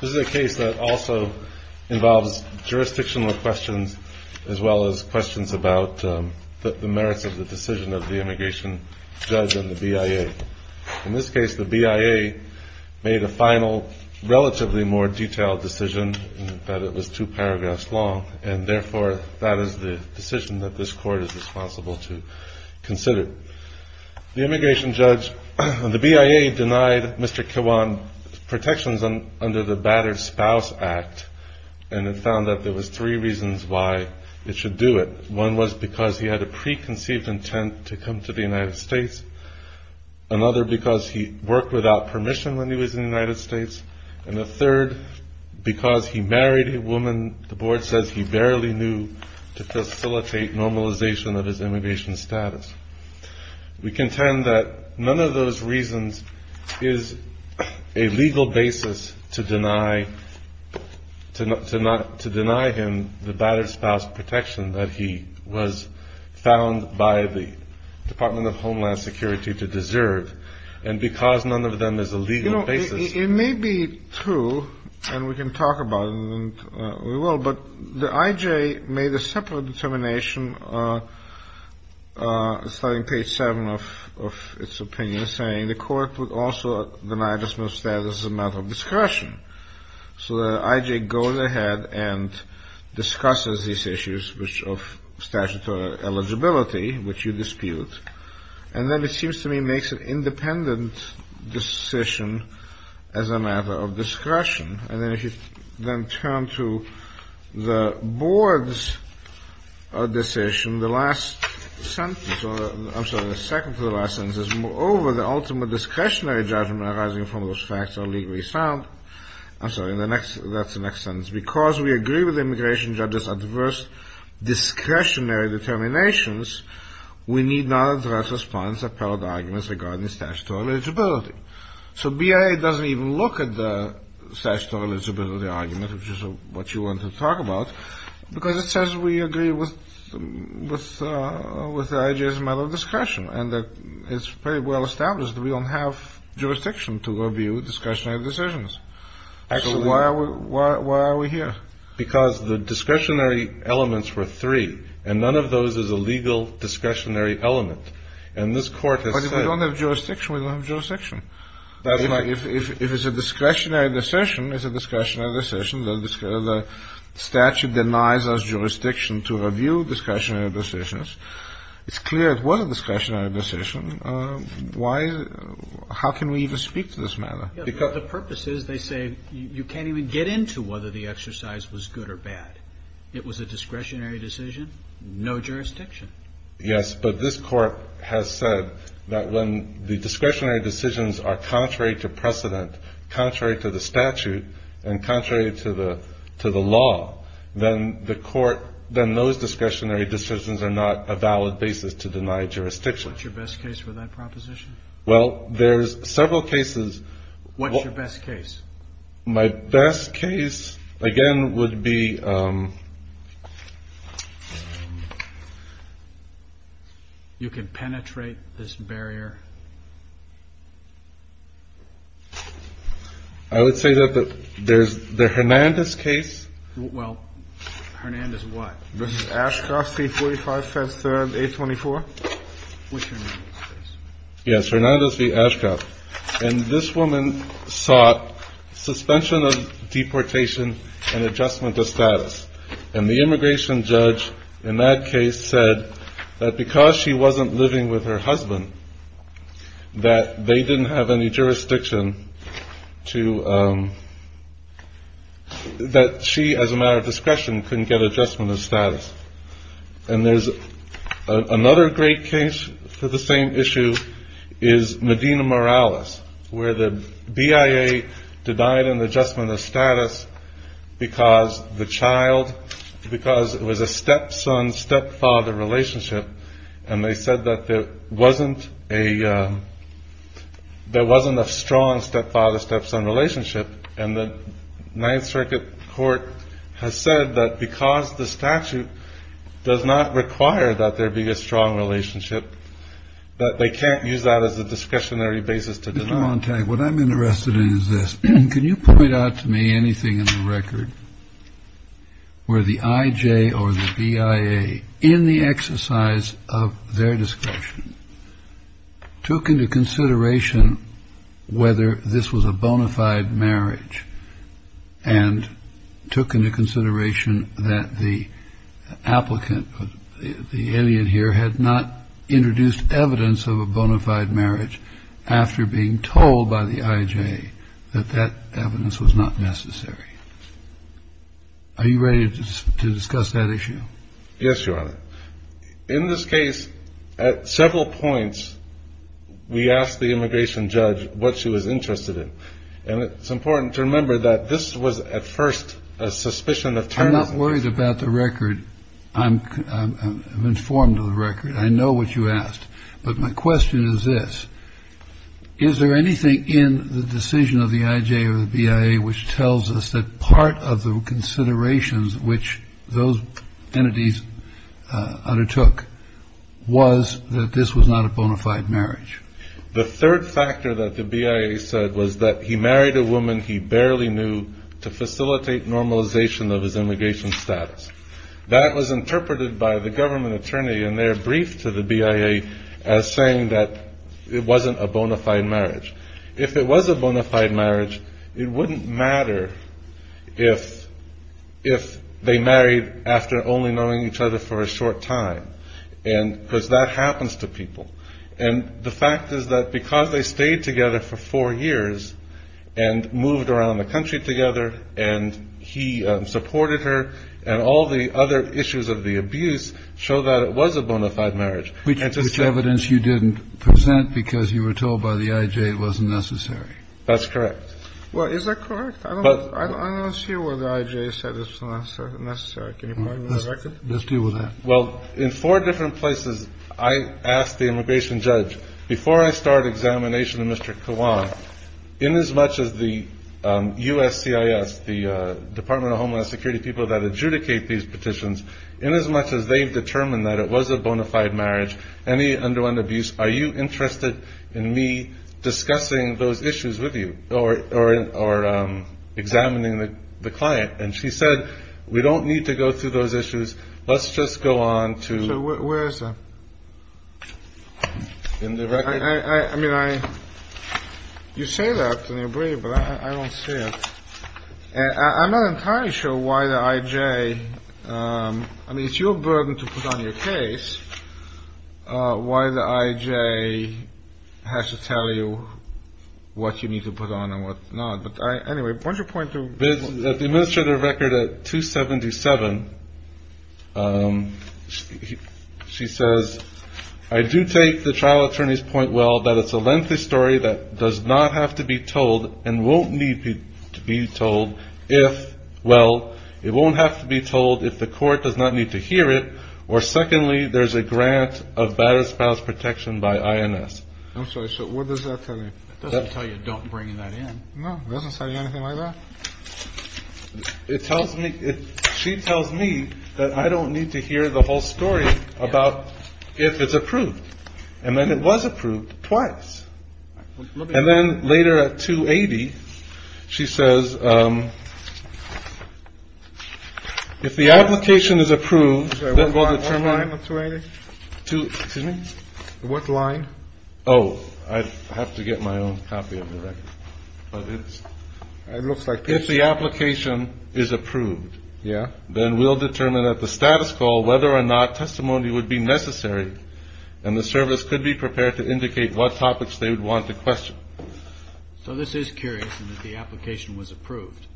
This is a case that also involves jurisdictional questions as well as questions about the merits of the decision of the immigration judge and the BIA. In this case, the BIA made a final, relatively more detailed decision in that it was two paragraphs long, and therefore that is the decision that this court is responsible to consider. The immigration judge, the BIA denied Mr. Kewan protections under the Batter's Spouse Act, and it found that there were three reasons why it should do it. One was because he had a preconceived intent to come to the United States, another because he worked without permission when he was in the United States, and a third because he married a woman the board says he barely knew to facilitate normalization of his immigration status. We contend that none of those reasons is a legal basis to deny him the Batter's Spouse protection that he was found by the Department of Homeland Security to deserve, and because none of them is a legal basis. You know, it may be true, and we can talk about it, and we will, but the IJ made a separate determination starting page 7 of its opinion, saying the court would also deny this man's status as a matter of discretion. So the IJ goes ahead and discusses these issues of statutory eligibility, which you dispute, and then it seems to me makes an independent decision as a matter of discretion. And then if you then turn to the board's decision, the last sentence, I'm sorry, the second to the last sentence is, moreover, the ultimate discretionary judgment arising from those facts are legally sound. I'm sorry, that's the next sentence. Because we agree with immigration judges' adverse discretionary determinations, we need non-addressed response appellate arguments regarding statutory eligibility. So BIA doesn't even look at the statutory eligibility argument, which is what you want to talk about, because it says we agree with the IJ's matter of discretion, and it's pretty well established that we don't have jurisdiction to review discretionary decisions. Actually, why are we here? Because the discretionary elements were three, and none of those is a legal discretionary element. And this Court has said that. But if we don't have jurisdiction, we don't have jurisdiction. That's right. If it's a discretionary decision, it's a discretionary decision. The statute denies us jurisdiction to review discretionary decisions. It's clear it was a discretionary decision. Why is it? How can we even speak to this matter? The purpose is, they say, you can't even get into whether the exercise was good or bad. It was a discretionary decision. No jurisdiction. Yes, but this Court has said that when the discretionary decisions are contrary to precedent, contrary to the statute, and contrary to the law, then the Court, then those discretionary decisions are not a valid basis to deny jurisdiction. What's your best case for that proposition? Well, there's several cases. What's your best case? My best case, again, would be... You can penetrate this barrier. I would say that there's the Hernandez case. Well, Hernandez what? This is Ashcroft, C-45, 5-3rd, A-24. Yes, Hernandez v. Ashcroft. And this woman sought suspension of deportation and adjustment of status. And the immigration judge in that case said that because she wasn't living with her husband, that they didn't have any jurisdiction to... that she, as a matter of discretion, couldn't get adjustment of status. And there's another great case for the same issue is Medina-Morales, where the BIA denied an adjustment of status because the child... because it was a stepson-stepfather relationship, and they said that there wasn't a strong stepfather-stepson relationship. And the Ninth Circuit Court has said that because the statute does not require that there be a strong relationship, that they can't use that as a discretionary basis to deny. Mr. Montague, what I'm interested in is this. Can you point out to me anything in the record where the IJ or the BIA, in the exercise of their discretion, took into consideration whether this was a bona fide marriage and took into consideration that the applicant, the alien here, had not introduced evidence of a bona fide marriage after being told by the IJ that that evidence was not necessary? Are you ready to discuss that issue? Yes, Your Honor. In this case, at several points, we asked the immigration judge what she was interested in. And it's important to remember that this was at first a suspicion of terrorism. I'm not worried about the record. I'm informed of the record. I know what you asked. But my question is this. Is there anything in the decision of the IJ or the BIA which tells us that part of the considerations which those entities undertook was that this was not a bona fide marriage? The third factor that the BIA said was that he married a woman he barely knew to facilitate normalization of his immigration status. That was interpreted by the government attorney in their brief to the BIA as saying that it wasn't a bona fide marriage. If it was a bona fide marriage, it wouldn't matter if they married after only knowing each other for a short time, because that happens to people. And the fact is that because they stayed together for four years and moved around the country together and he supported her and all the other issues of the abuse show that it was a bona fide marriage. Which evidence you didn't present because you were told by the IJ it wasn't necessary. That's correct. Well, is that correct? I don't see where the IJ said it was necessary. Can you point me to the record? Let's deal with that. Well, in four different places, I asked the immigration judge, before I start examination of Mr. Kawan, in as much as the USCIS, the Department of Homeland Security people that adjudicate these petitions, in as much as they've determined that it was a bona fide marriage, any underwent abuse, are you interested in me discussing those issues with you or examining the client? And she said, we don't need to go through those issues. Let's just go on to the record. I mean, you say that and you're brave, but I don't see it. I'm not entirely sure why the IJ, I mean, it's your burden to put on your case, why the IJ has to tell you what you need to put on and what not. At the administrative record at 277, she says, I do take the trial attorney's point well that it's a lengthy story that does not have to be told and won't need to be told if, well, it won't have to be told if the court does not need to hear it, or secondly, there's a grant of baddest spouse protection by INS. I'm sorry, so what does that tell you? It doesn't tell you don't bring that in. No, it doesn't say anything like that. It tells me she tells me that I don't need to hear the whole story about if it's approved and then it was approved twice. And then later at 280, she says if the application is approved, what line? Oh, I have to get my own copy of the record. It looks like if the application is approved, then we'll determine at the status call whether or not testimony would be necessary and the service could be prepared to indicate what topics they would want to question. So this is curious that the application was approved.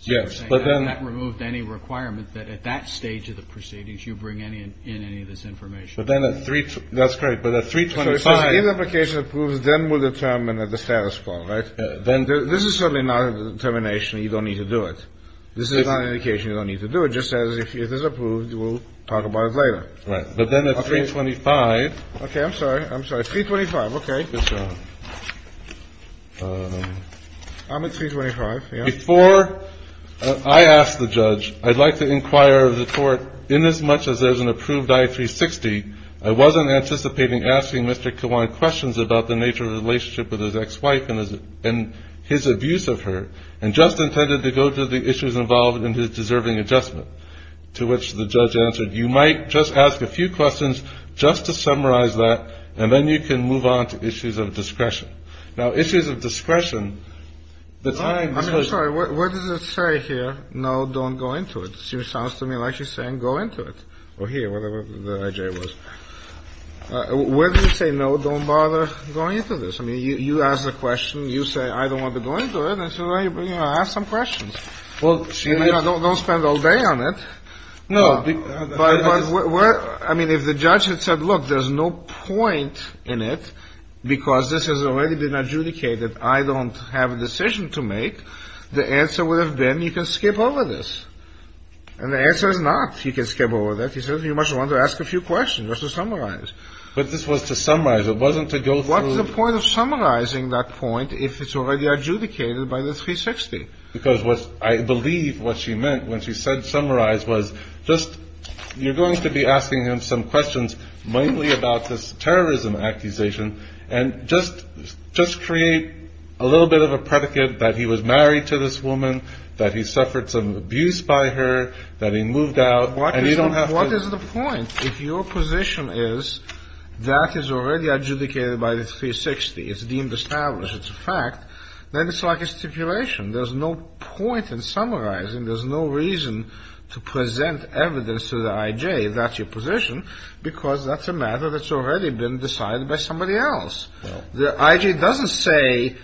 Yes. But then that removed any requirement that at that stage of the proceedings, you bring any in any of this information. But then at three. That's great. But at 325 application approves, then we'll determine that the status quo. Right. Then this is certainly not a determination. You don't need to do it. This is not an indication. You don't need to do it just as if it is approved. We'll talk about it later. Right. But then at 325. OK. I'm sorry. OK. I'm at 325. Before I ask the judge, I'd like to inquire of the court in as much as there's an approved I360. I wasn't anticipating asking Mr. Kawan questions about the nature of the relationship with his ex-wife and his abuse of her and just intended to go to the issues involved in his deserving adjustment to which the judge answered. You might just ask a few questions just to summarize that, and then you can move on to issues of discretion. Now, issues of discretion. I'm sorry. What does it say here? No, don't go into it. Sounds to me like you're saying go into it or here, whatever the idea was. Where do you say? No, don't bother going into this. I mean, you ask the question. You say, I don't want to go into it. I have some questions. Well, I don't spend all day on it. No. I mean, if the judge had said, look, there's no point in it because this has already been adjudicated. I don't have a decision to make. The answer would have been you can skip over this. And the answer is not you can skip over that. He said you must want to ask a few questions just to summarize. But this was to summarize. It wasn't to go through. What's the point of summarizing that point if it's already adjudicated by the 360? Because I believe what she meant when she said summarize was just you're going to be asking him some questions, mainly about this terrorism accusation, and just create a little bit of a predicate that he was married to this woman, that he suffered some abuse by her, that he moved out, and you don't have to. What is the point if your position is that is already adjudicated by the 360? It's deemed established. It's a fact. Then it's like a stipulation. There's no point in summarizing. There's no reason to present evidence to the I.J. that's your position because that's a matter that's already been decided by somebody else. The I.J. doesn't say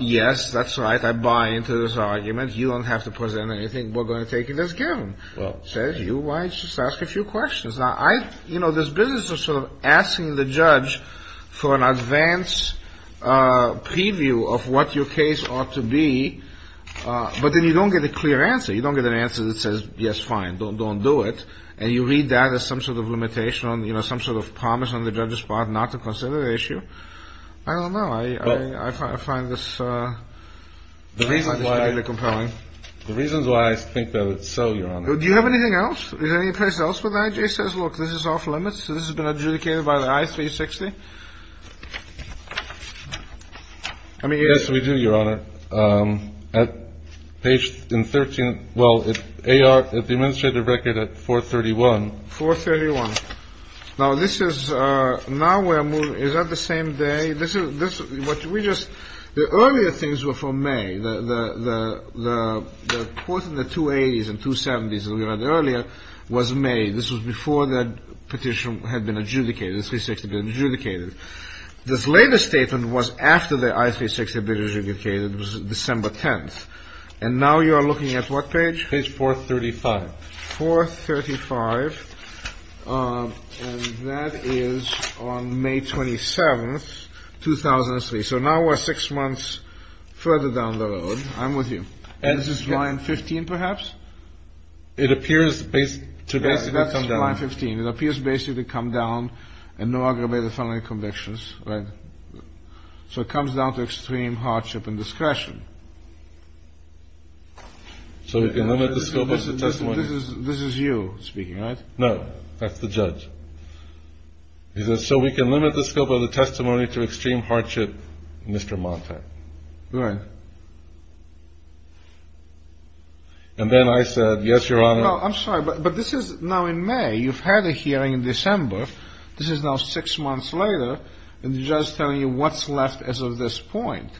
yes, that's right, I buy into this argument. You don't have to present anything. We're going to take it as given. It says you might just ask a few questions. This business of sort of asking the judge for an advanced preview of what your case ought to be, but then you don't get a clear answer. You don't get an answer that says, yes, fine, don't do it, and you read that as some sort of limitation, some sort of promise on the judge's part not to consider the issue. I don't know. I find this particularly compelling. The reason why I think that is so, Your Honor. Do you have anything else? Is there any place else where the I.J. says, look, this is off limits, this has been adjudicated by the I.360? Yes, we do, Your Honor. At page 13, well, at the administrative record at 431. 431. Now, this is now we're moving, is that the same day? The earlier things were from May. The court in the 280s and 270s, as we read earlier, was May. This was before that petition had been adjudicated, the 360 had been adjudicated. This later statement was after the I.360 had been adjudicated. It was December 10th. And now you are looking at what page? Page 435. 435. And that is on May 27th, 2003. So now we're six months further down the road. I'm with you. And this is line 15, perhaps? It appears to basically come down. That's line 15. It appears basically to come down and no aggravated felony convictions, right? So it comes down to extreme hardship and discretion. So we can limit the scope of the testimony. This is you speaking, right? No, that's the judge. He says, so we can limit the scope of the testimony to extreme hardship, Mr. Montag. Right. And then I said, yes, Your Honor. No, I'm sorry, but this is now in May. You've had a hearing in December. This is now six months later, and the judge is telling you what's left as of this point.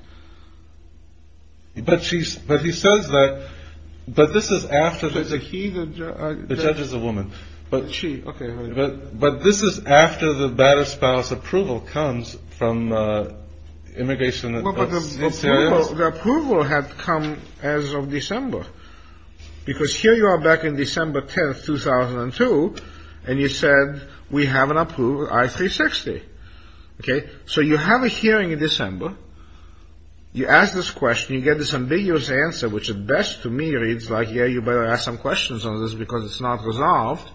But he says that, but this is after the judge is a woman. But this is after the battered spouse approval comes from immigration. The approval had come as of December. Because here you are back in December 10th, 2002, and you said, we have an approval, I-360. Okay? So you have a hearing in December. You ask this question. You get this ambiguous answer, which at best to me reads like, yeah, you better ask some questions on this because it's not resolved.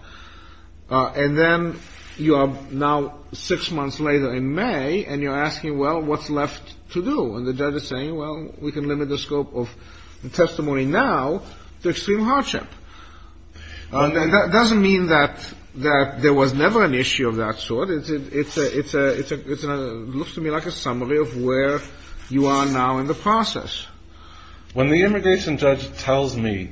And then you are now six months later in May, and you're asking, well, what's left to do? And the judge is saying, well, we can limit the scope of the testimony now to extreme hardship. And that doesn't mean that there was never an issue of that sort. It looks to me like a summary of where you are now in the process. When the immigration judge tells me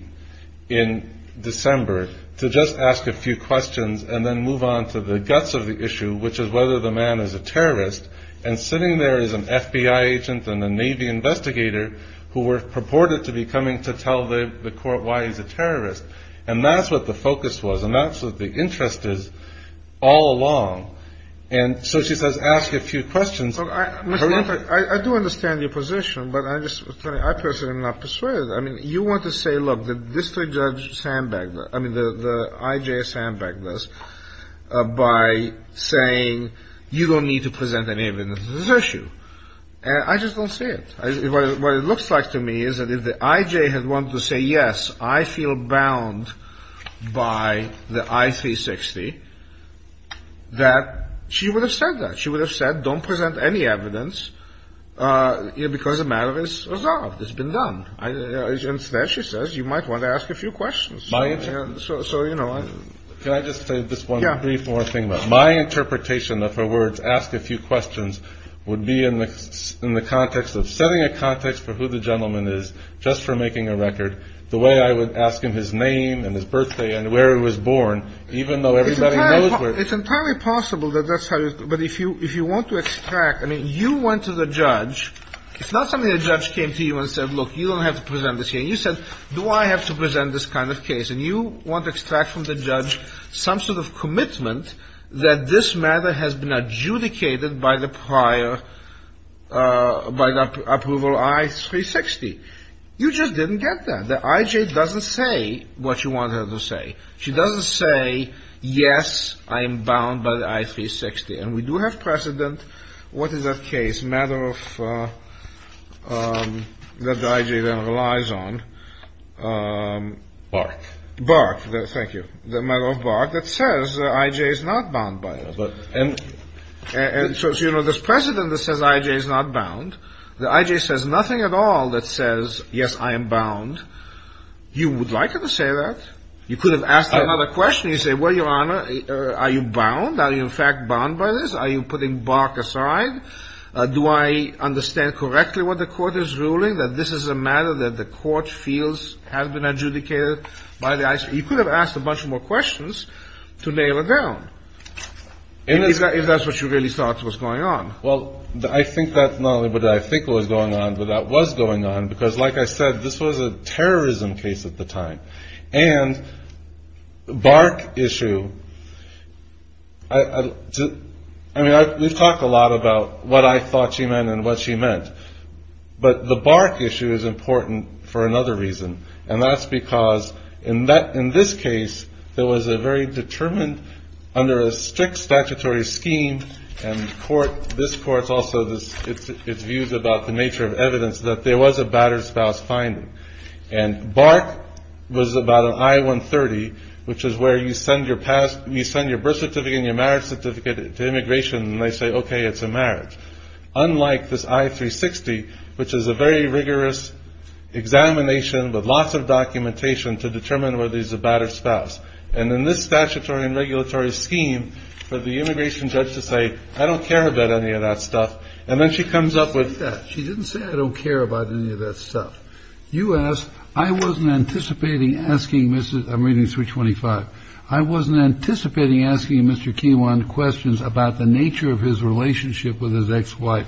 in December to just ask a few questions and then move on to the guts of the issue, which is whether the man is a terrorist, and sitting there is an FBI agent and a Navy investigator who were purported to be coming to tell the court why he's a terrorist, and that's what the focus was and that's what the interest is all along. And so she says ask a few questions. I do understand your position, but I personally am not persuaded. I mean, you want to say, look, the district judge's handbag, I mean, the I.J.'s handbag this by saying you don't need to present any evidence of this issue. I just don't see it. What it looks like to me is that if the I.J. had wanted to say, yes, I feel bound by the I.C. 60, that she would have said that. She would have said don't present any evidence because the matter is resolved. It's been done. Instead, she says, you might want to ask a few questions. So, you know. Can I just say this one brief more thing? My interpretation of her words, ask a few questions, would be in the context of setting a context for who the gentleman is just for making a record, the way I would ask him his name and his birthday and where he was born, even though everybody knows where. It's entirely possible that that's how it is. But if you if you want to extract, I mean, you went to the judge. It's not something the judge came to you and said, look, you don't have to present this here. And you said, do I have to present this kind of case? And you want to extract from the judge some sort of commitment that this matter has been adjudicated by the prior by the approval I.C. 60. You just didn't get that. The I.J. doesn't say what you want her to say. She doesn't say, yes, I am bound by the I.C. 60. And we do have precedent. What is that case? Matter of that the I.J. then relies on. Barth. Barth. Thank you. The matter of Barth that says the I.J. is not bound by it. And so it's, you know, this precedent that says I.J. is not bound. The I.J. says nothing at all that says, yes, I am bound. You would like her to say that. You could have asked her another question. You say, well, Your Honor, are you bound? Are you in fact bound by this? Are you putting Barth aside? Do I understand correctly what the court is ruling, that this is a matter that the court feels has been adjudicated by the I.J.? You could have asked a bunch more questions to nail it down, if that's what you really thought was going on. Well, I think that's not only what I think was going on, but that was going on, because, like I said, this was a terrorism case at the time. And the Barth issue, I mean, we've talked a lot about what I thought she meant and what she meant. But the Barth issue is important for another reason. And that's because in this case, there was a very determined, under a strict statutory scheme, and this court's also its views about the nature of evidence, that there was a battered spouse finding. And Barth was about an I-130, which is where you send your birth certificate and your marriage certificate to immigration, and they say, okay, it's a marriage. Unlike this I-360, which is a very rigorous examination with lots of documentation to determine whether he's a battered spouse. And in this statutory and regulatory scheme, for the immigration judge to say, I don't care about any of that stuff, and then she comes up with that, she didn't say, I don't care about any of that stuff. You ask, I wasn't anticipating asking Mrs. I'm reading 325. I wasn't anticipating asking Mr. Keewan questions about the nature of his relationship with his ex-wife.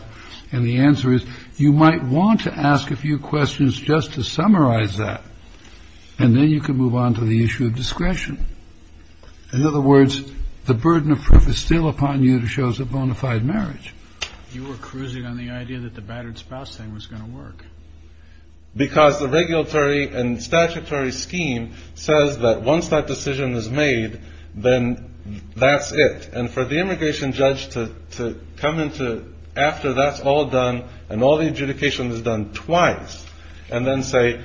And the answer is, you might want to ask a few questions just to summarize that, and then you can move on to the issue of discretion. In other words, the burden of proof is still upon you to show us a bona fide marriage. You were cruising on the idea that the battered spouse thing was going to work. Because the regulatory and statutory scheme says that once that decision is made, then that's it. And for the immigration judge to come into, after that's all done and all the adjudication is done twice, and then say,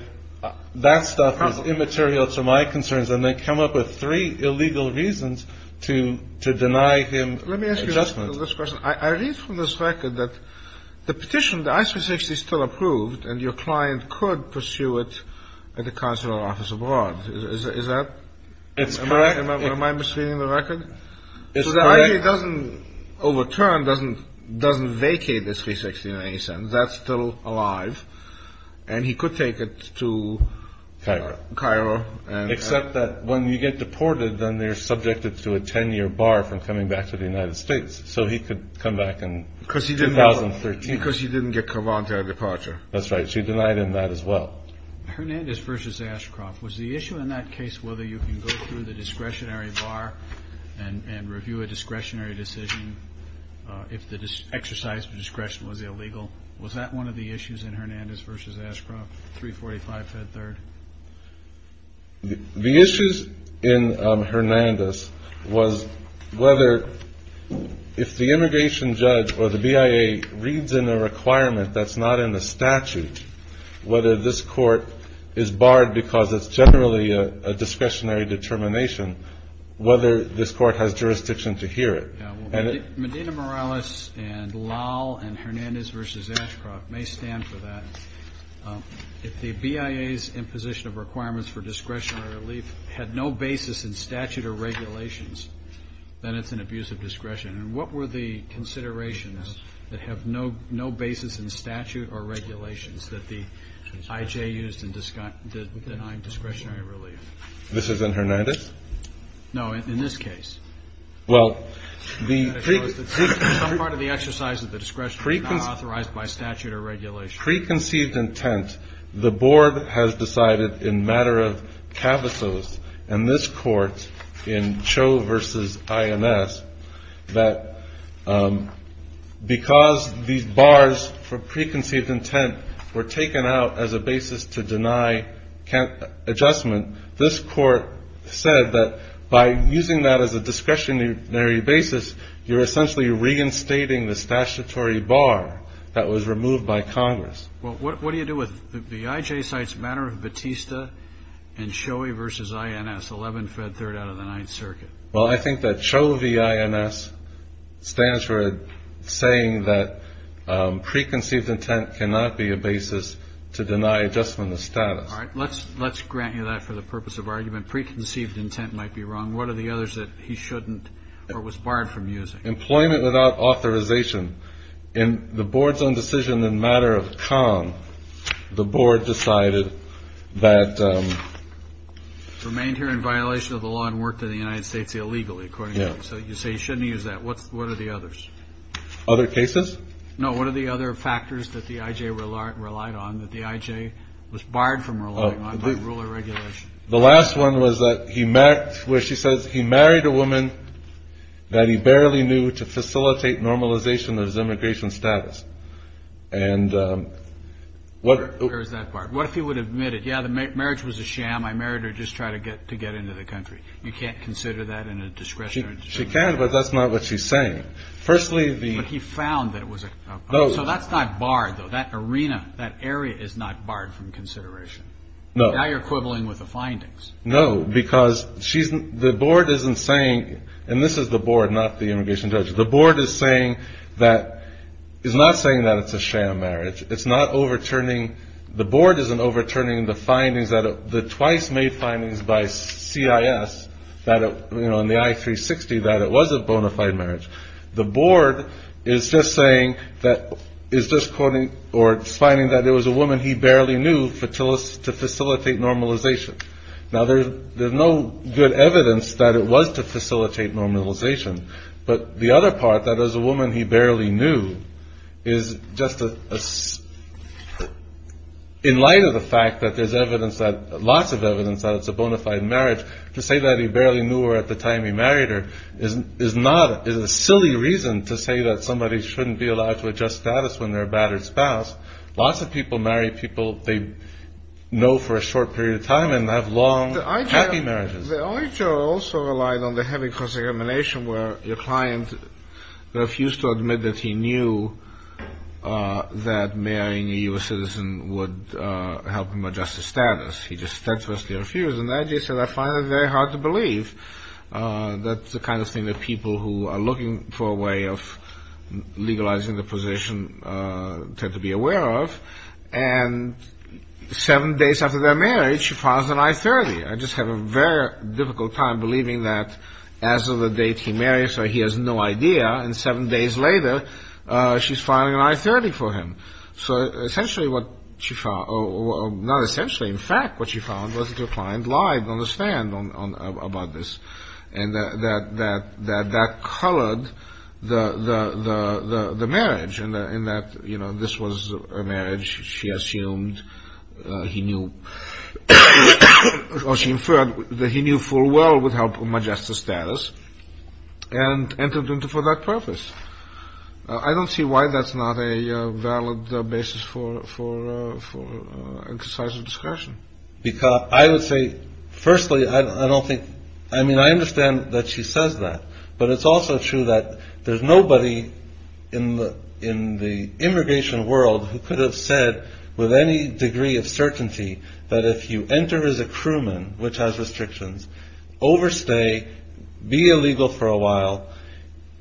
that stuff is immaterial to my concerns, and then come up with three illegal reasons to deny him adjustment. Let me ask you this question. I read from this record that the petition, the I-360 is still approved, and your client could pursue it at the consular office abroad. Is that? It's correct. Am I misreading the record? It's correct. So the IAEA doesn't overturn, doesn't vacate this 360 in any sense. That's still alive. And he could take it to Cairo. Except that when you get deported, then they're subjected to a 10-year bar from coming back to the United States. So he could come back in 2013. Because he didn't get Kavan to a departure. That's right. She denied him that as well. Hernandez versus Ashcroft. Was the issue in that case whether you can go through the discretionary bar and review a discretionary decision if the exercise of discretion was illegal? Was that one of the issues in Hernandez versus Ashcroft, 345 Fed Third? The issues in Hernandez was whether if the immigration judge or the BIA reads in a requirement that's not in the statute, whether this court is barred because it's generally a discretionary determination, whether this court has jurisdiction to hear it. Medina Morales and Lal and Hernandez versus Ashcroft may stand for that. If the BIA's imposition of requirements for discretionary relief had no basis in statute or regulations, then it's an abuse of discretion. And what were the considerations that have no basis in statute or regulations that the IJ used in denying discretionary relief? This is in Hernandez? No, in this case. Well, the pre- Some part of the exercise of the discretion was not authorized by statute or regulations. Preconceived intent. The board has decided in matter of cavasos in this court, in Cho versus INS, that because these bars for preconceived intent were taken out as a basis to deny adjustment, this court said that by using that as a discretionary basis, you're essentially reinstating the statutory bar that was removed by Congress. Well, what do you do with the IJ side's matter of Batista and Cho versus INS, 11 Fed Third out of the Ninth Circuit? Well, I think that Cho v. INS stands for saying that preconceived intent cannot be a basis to deny adjustment of status. All right. Let's grant you that for the purpose of argument. Preconceived intent might be wrong. What are the others that he shouldn't or was barred from using? Employment without authorization. In the board's own decision in matter of con, the board decided that- Remained here in violation of the law and worked in the United States illegally, according to you. So you say he shouldn't use that. What are the others? Other cases? No, what are the other factors that the IJ relied on that the IJ was barred from relying on by rule or regulation? The last one was that he married, where she says he married a woman that he barely knew to facilitate normalization of his immigration status. And what- Where is that part? What if he would admit it? Yeah, the marriage was a sham. I married her just to try to get into the country. You can't consider that in a discretionary- She can, but that's not what she's saying. Firstly, the- But he found that it was a- No. So that's not barred, though. That arena, that area is not barred from consideration. No. Now you're quibbling with the findings. No, because she's- The board isn't saying- And this is the board, not the immigration judge. The board is saying that- Is not saying that it's a sham marriage. It's not overturning- The board isn't overturning the findings that- The twice-made findings by CIS that it- You know, in the I-360, that it was a bona fide marriage. The board is just saying that- Is just quoting- Or finding that it was a woman he barely knew to facilitate normalization. Now, there's no good evidence that it was to facilitate normalization. But the other part, that as a woman he barely knew, is just a- In light of the fact that there's evidence that- Lots of evidence that it's a bona fide marriage, to say that he barely knew her at the time he married her is not- Is a silly reason to say that somebody shouldn't be allowed to adjust status when they're a battered spouse. Lots of people marry people they know for a short period of time and have long, happy marriages. The IJR also relied on the heavy cross-examination where your client refused to admit that he knew that marrying a U.S. citizen would help him adjust his status. He just steadfastly refused. And the IJR said, I find that very hard to believe. That's the kind of thing that people who are looking for a way of legalizing the position tend to be aware of. And seven days after their marriage, she files an I-30. I just have a very difficult time believing that as of the date he married her, he has no idea. And seven days later, she's filing an I-30 for him. So essentially what she found- Well, not essentially. In fact, what she found was that her client lied on the stand about this. And that colored the marriage in that this was a marriage she assumed he knew- Or she inferred that he knew full well would help him adjust his status. And entered into for that purpose. I don't see why that's not a valid basis for exercise of discretion. I would say, firstly, I don't think- I mean, I understand that she says that. But it's also true that there's nobody in the immigration world who could have said with any degree of certainty that if you enter as a crewman, which has restrictions, overstay, be illegal for a while,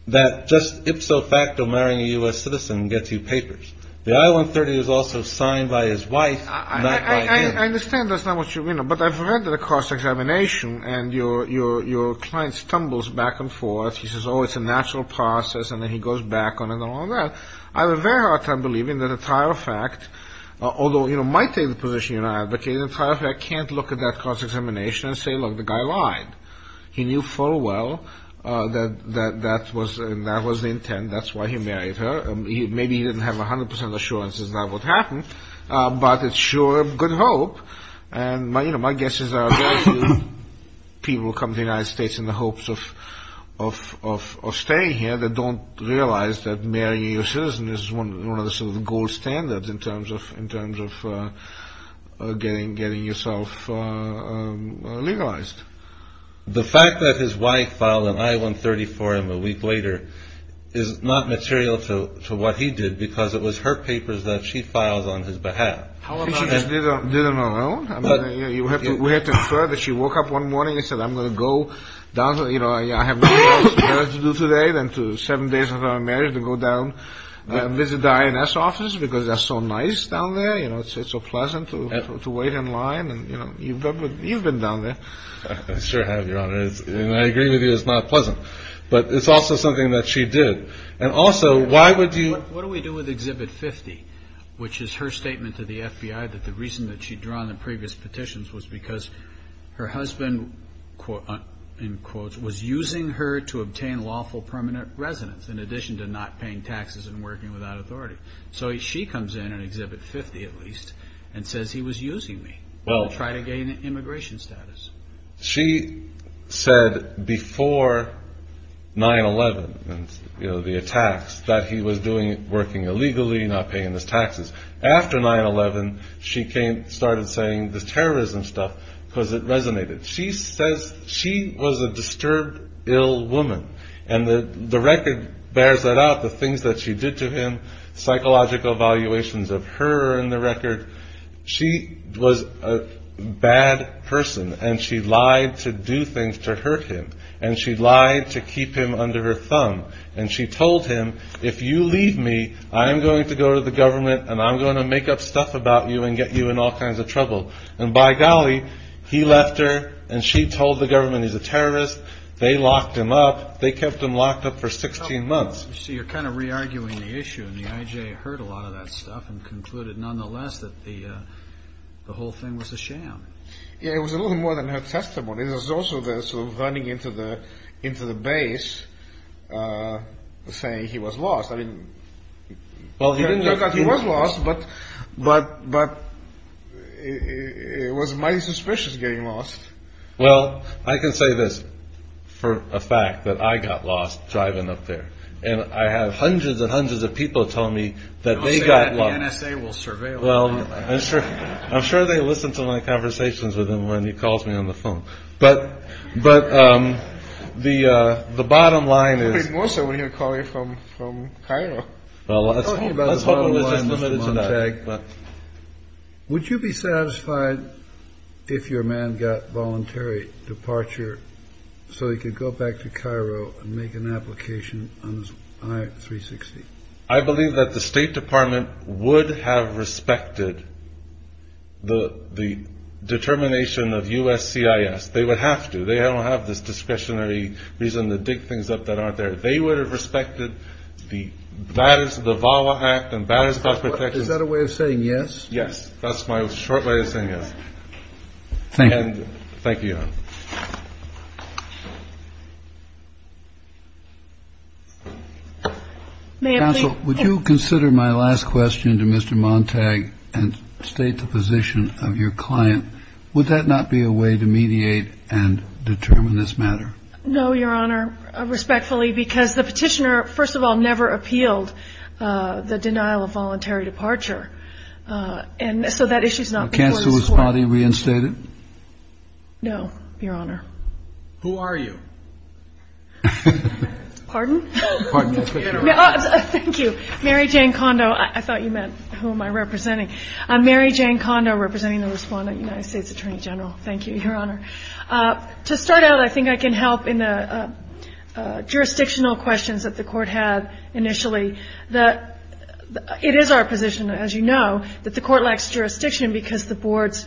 that just ipso facto marrying a U.S. citizen gets you papers. The I-130 is also signed by his wife, not by him. I understand that's not what you- But I've read the cross-examination, and your client stumbles back and forth. He says, oh, it's a natural process, and then he goes back on it and all that. I have a very hard time believing that a trial fact, although it might take the position you're not advocating, a trial fact can't look at that cross-examination and say, look, the guy lied. He knew full well that that was the intent. That's why he married her. Maybe he didn't have 100% assurance that that would happen. But it's sure a good hope. And my guess is there are very few people who come to the United States in the hopes of staying here that don't realize that marrying a U.S. citizen is one of the sort of gold standards in terms of getting yourself legalized. The fact that his wife filed an I-130 for him a week later is not material to what he did, because it was her papers that she filed on his behalf. She just did it on her own? We have to infer that she woke up one morning and said, I'm going to go down to, you know, I have more work to do today than to seven days before my marriage to go down and visit the INS office because they're so nice down there. You know, it's so pleasant to wait in line. And, you know, you've been down there. I sure have, Your Honor. And I agree with you, it's not pleasant. But it's also something that she did. And also, why would you – What do we do with Exhibit 50, which is her statement to the FBI that the reason that she'd drawn the previous petitions was because her husband, in quotes, was using her to obtain lawful permanent residence, in addition to not paying taxes and working without authority. So she comes in on Exhibit 50, at least, and says he was using me to try to gain immigration status. She said before 9-11, you know, the attacks, that he was working illegally, not paying his taxes. After 9-11, she started saying the terrorism stuff because it resonated. She says she was a disturbed, ill woman. And the record bears that out, the things that she did to him, psychological evaluations of her in the record. She was a bad person, and she lied to do things to hurt him. And she lied to keep him under her thumb. And she told him, if you leave me, I am going to go to the government, and I'm going to make up stuff about you and get you in all kinds of trouble. And by golly, he left her, and she told the government he's a terrorist. They locked him up. They kept him locked up for 16 months. So you're kind of re-arguing the issue, and the IJ heard a lot of that stuff and concluded nonetheless that the whole thing was a sham. Yeah, it was a little more than her testimony. There was also the sort of running into the base saying he was lost. I mean, it turned out he was lost, but it was mighty suspicious getting lost. Well, I can say this for a fact, that I got lost driving up there. And I had hundreds and hundreds of people tell me that they got lost. I'll say that the NSA will surveil you. I'm sure they listen to my conversations with him when he calls me on the phone. But the bottom line is. It would be more so when he would call you from Cairo. Let's hope it was just limited to that. Would you be satisfied if your man got voluntary departure so he could go back to Cairo and make an application on I-360? I believe that the State Department would have respected the determination of USCIS. They would have to. They don't have this discretionary reason to dig things up that aren't there. They would have respected the VAWA Act and Banners About Protection. Is that a way of saying yes? Yes. That's my short way of saying yes. Thank you. Thank you. Thank you. Counsel, would you consider my last question to Mr. Montag and state the position of your client? Would that not be a way to mediate and determine this matter? No, Your Honor. Respectfully, because the petitioner, first of all, never appealed the denial of voluntary departure. And so that issue is not before the court. Has anybody reinstated? No, Your Honor. Who are you? Pardon? Thank you. Mary Jane Kondo. I thought you meant who am I representing. I'm Mary Jane Kondo, representing the respondent, United States Attorney General. Thank you, Your Honor. To start out, I think I can help in the jurisdictional questions that the Court had initially. It is our position, as you know, that the Court lacks jurisdiction because the Board's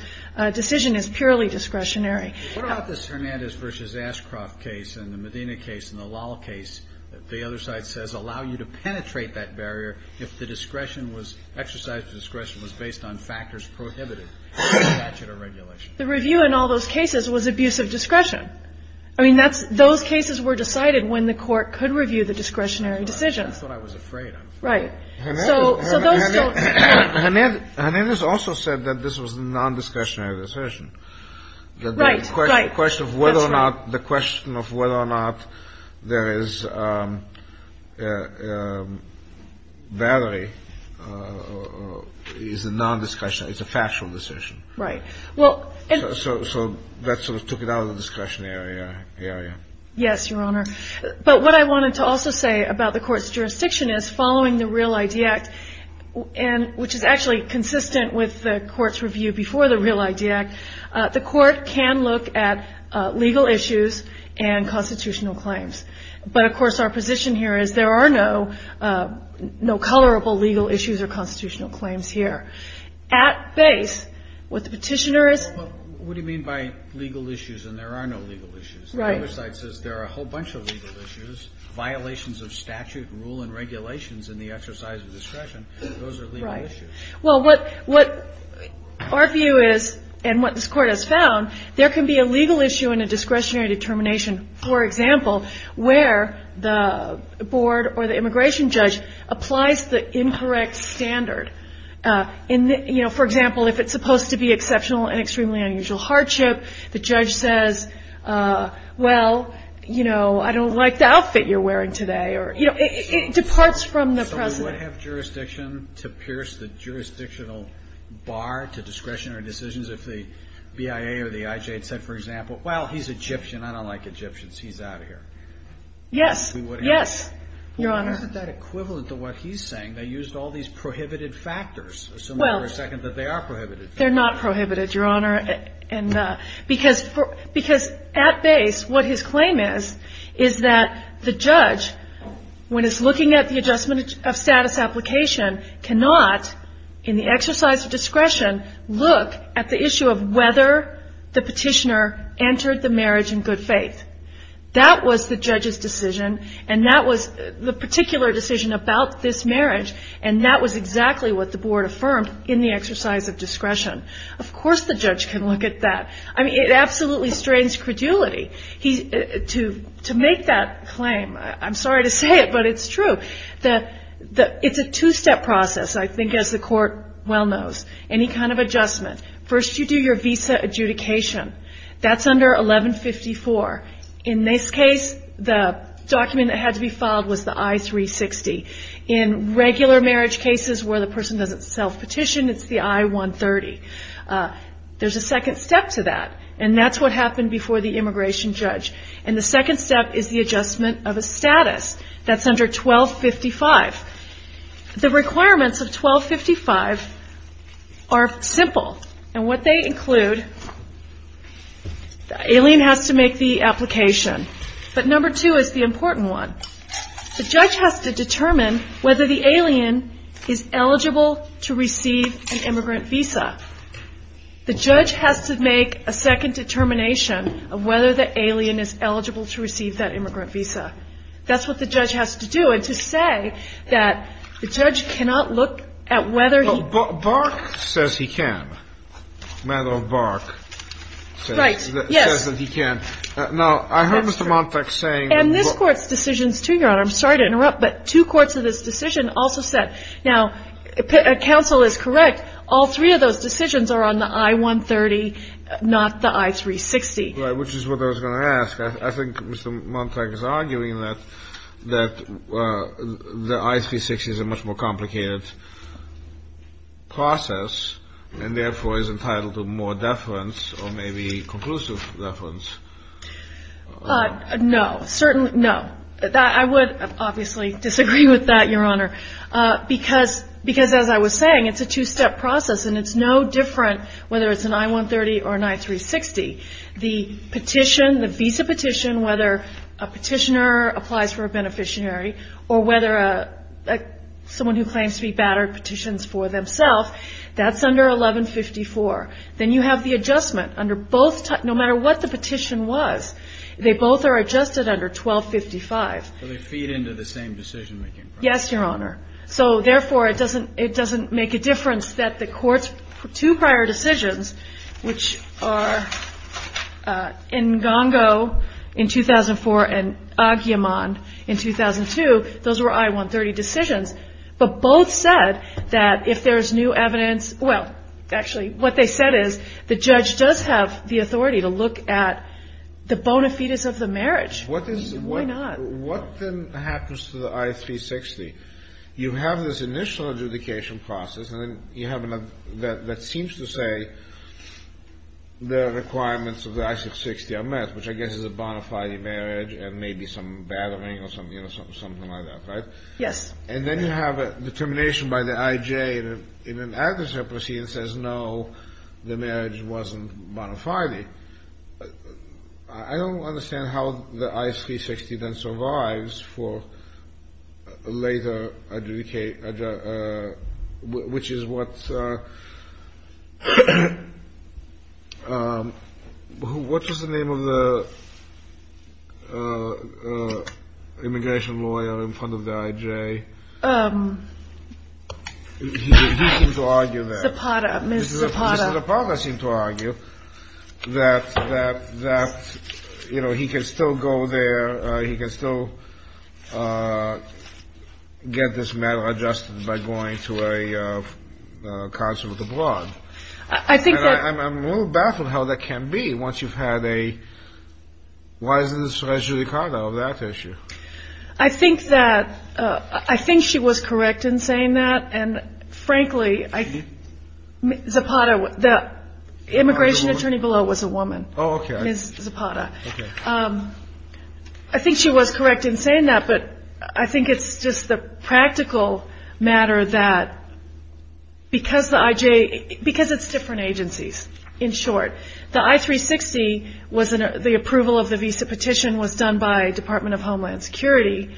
decision is purely discretionary. What about this Hernandez v. Ashcroft case and the Medina case and the Lal case that the other side says allow you to penetrate that barrier if the discretion was, exercise of discretion was based on factors prohibited by statute or regulation? The review in all those cases was abuse of discretion. I mean, those cases were decided when the Court could review the discretionary decisions. That's what I was afraid of. Right. So those don't. Hernandez also said that this was a non-discretionary decision. Right, right. The question of whether or not there is battery is a non-discretionary. It's a factual decision. Right. So that sort of took it out of the discretionary area. Yes, Your Honor. But what I wanted to also say about the Court's jurisdiction is following the Real ID Act, which is actually consistent with the Court's review before the Real ID Act, the Court can look at legal issues and constitutional claims. But, of course, our position here is there are no colorable legal issues or constitutional claims here. At base, what the petitioner is What do you mean by legal issues and there are no legal issues? Right. The other side says there are a whole bunch of legal issues, violations of statute, rule, and regulations in the exercise of discretion. Those are legal issues. Right. Well, what our view is and what this Court has found, there can be a legal issue in a discretionary determination, for example, where the board or the immigration judge applies the incorrect standard. You know, for example, if it's supposed to be exceptional and extremely unusual hardship, the judge says, well, you know, I don't like the outfit you're wearing today. It departs from the precedent. So we would have jurisdiction to pierce the jurisdictional bar to discretionary decisions if the BIA or the IJ had said, for example, well, he's Egyptian. I don't like Egyptians. He's out of here. Yes. We would have. Yes, Your Honor. Well, isn't that equivalent to what he's saying? They used all these prohibited factors. Well. Assuming for a second that they are prohibited. They're not prohibited, Your Honor. Because at base, what his claim is, is that the judge, when it's looking at the adjustment of status application, cannot in the exercise of discretion look at the issue of whether the petitioner entered the marriage in good faith. That was the judge's decision, and that was the particular decision about this marriage, and that was exactly what the board affirmed in the exercise of discretion. Of course the judge can look at that. I mean, it absolutely strains credulity to make that claim. I'm sorry to say it, but it's true. It's a two-step process, I think, as the court well knows. Any kind of adjustment. First you do your visa adjudication. That's under 1154. In this case, the document that had to be filed was the I-360. In regular marriage cases where the person doesn't self-petition, it's the I-130. There's a second step to that, and that's what happened before the immigration judge. And the second step is the adjustment of a status. That's under 1255. The requirements of 1255 are simple, and what they include, Aileen has to make the application, but number two is the important one. The judge has to determine whether the alien is eligible to receive an immigrant visa. The judge has to make a second determination of whether the alien is eligible to receive that immigrant visa. That's what the judge has to do. And to say that the judge cannot look at whether he can. Bark says he can. Right. Yes. Now, I heard Mr. Montag saying. And this Court's decisions, too, Your Honor. I'm sorry to interrupt, but two courts of this decision also said. Now, counsel is correct. All three of those decisions are on the I-130, not the I-360. Right, which is what I was going to ask. I think Mr. Montag is arguing that the I-360 is a much more complicated process and therefore is entitled to more deference or maybe conclusive deference. No, certainly no. I would obviously disagree with that, Your Honor, because as I was saying, it's a two-step process, and it's no different whether it's an I-130 or an I-360. The petition, the visa petition, whether a petitioner applies for a beneficiary or whether someone who claims to be battered petitions for themselves, that's under I-1154. Then you have the adjustment under both. No matter what the petition was, they both are adjusted under I-1255. So they feed into the same decision-making process. Yes, Your Honor. So, therefore, it doesn't make a difference that the Court's two prior decisions, which are Ngongo in 2004 and Agiamond in 2002, those were I-130 decisions, but both said that if there's new evidence, well, actually, what they said is the judge does have the authority to look at the bona fides of the marriage. Why not? What then happens to the I-360? You have this initial adjudication process, and then you have another that seems to say the requirements of the I-360 are met, which I guess is a bona fide marriage and maybe some battering or something like that, right? Yes. And then you have a determination by the IJ in an aggressor proceeding that says, no, the marriage wasn't bona fide. I don't understand how the I-360 then survives for later adjudication, which is what's the name of the immigration lawyer in front of the IJ? He seemed to argue that. Zapata. Ms. Zapata. Ms. Zapata seemed to argue that, you know, he can still go there, he can still get this matter adjusted by going to a consulate abroad. I think that. And I'm a little baffled how that can be once you've had a wiseness adjudicata of that issue. I think that she was correct in saying that, and, frankly, Zapata, the immigration attorney below was a woman. Oh, okay. Ms. Zapata. Okay. I think she was correct in saying that, but I think it's just the practical matter that because the IJ, because it's different agencies, in short, the I-360 was the approval of the visa petition was done by Department of Homeland Security,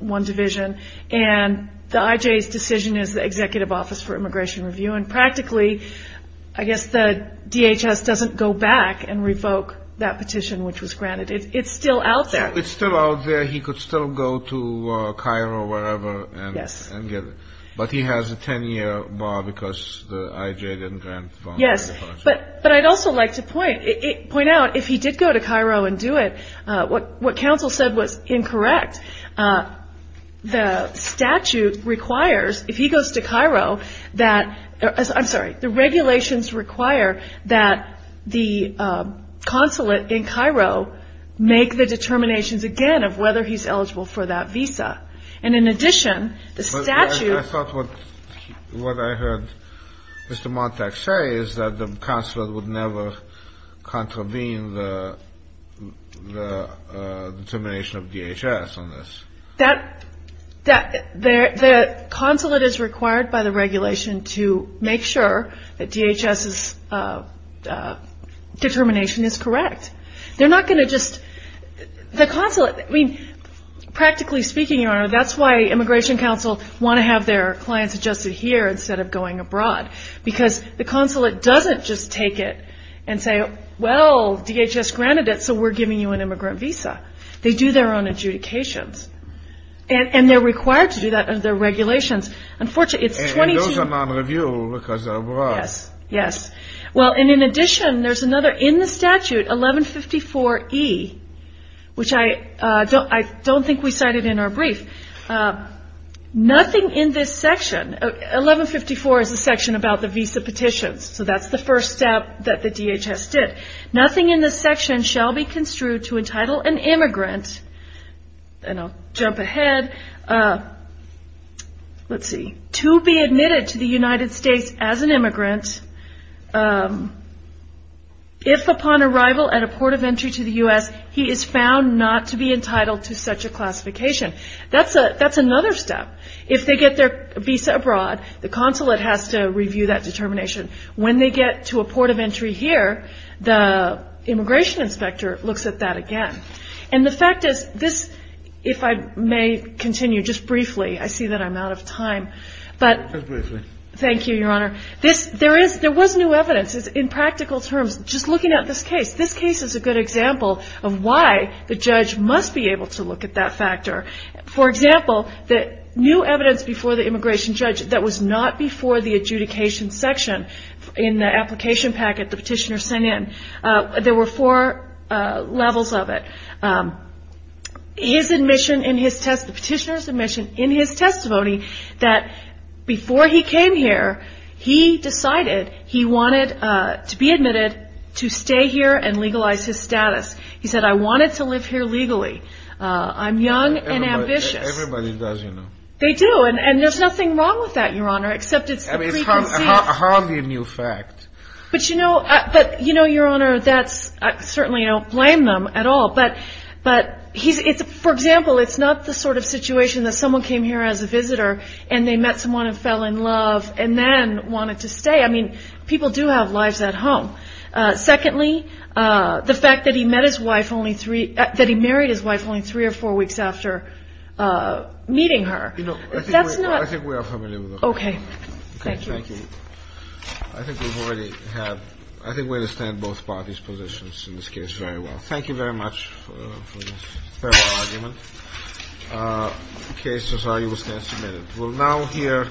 one division, and the IJ's decision is the Executive Office for Immigration Review, and practically I guess the DHS doesn't go back and revoke that petition which was granted. It's still out there. It's still out there. He could still go to Cairo or wherever and get it. Yes. But he has a 10-year bar because the IJ didn't grant the bond. Yes. But I'd also like to point out, if he did go to Cairo and do it, what counsel said was incorrect. The statute requires, if he goes to Cairo, that, I'm sorry, the regulations require that the consulate in Cairo make the determinations again of whether he's eligible for that visa. And in addition, the statute. I thought what I heard Mr. Montag say is that the consulate would never contravene the determination of DHS on this. The consulate is required by the regulation to make sure that DHS's determination is correct. They're not going to just, the consulate, I mean, practically speaking, Your Honor, that's why immigration counsel want to have their clients adjusted here instead of going abroad. Because the consulate doesn't just take it and say, well, DHS granted it, so we're giving you an immigrant visa. They do their own adjudications. And they're required to do that under regulations. Unfortunately, it's 22. And those are non-review because they're abroad. Yes. Well, and in addition, there's another in the statute, 1154E, which I don't think we cited in our brief. Nothing in this section, 1154 is the section about the visa petitions. So that's the first step that the DHS did. Nothing in this section shall be construed to entitle an immigrant, and I'll jump ahead, let's see, to be admitted to the United States as an immigrant, if upon arrival at a port of entry to the U.S., he is found not to be entitled to such a classification. That's another step. If they get their visa abroad, the consulate has to review that determination. When they get to a port of entry here, the immigration inspector looks at that again. And the fact is, this, if I may continue just briefly, I see that I'm out of time. Just briefly. Thank you, Your Honor. There was new evidence. In practical terms, just looking at this case, this case is a good example of why the judge must be able to look at that factor. For example, the new evidence before the immigration judge that was not before the adjudication section in the application packet the petitioner sent in, there were four levels of it. His admission in his test, the petitioner's admission in his testimony that before he came here, he decided he wanted to be admitted to stay here and legalize his status. He said, I wanted to live here legally. I'm young and ambitious. Everybody does, you know. They do. And there's nothing wrong with that, Your Honor, except it's the preconceived. I mean, it's hardly a new fact. But, you know, Your Honor, I certainly don't blame them at all. But, for example, it's not the sort of situation that someone came here as a visitor and they met someone and fell in love and then wanted to stay. I mean, people do have lives at home. Secondly, the fact that he married his wife only three or four weeks after meeting her. You know, I think we are familiar with that. Okay. Thank you. Thank you. I think we've already had – I think we understand both parties' positions in this case very well. Thank you very much for this thorough argument. The case is now submitted. We'll now hear.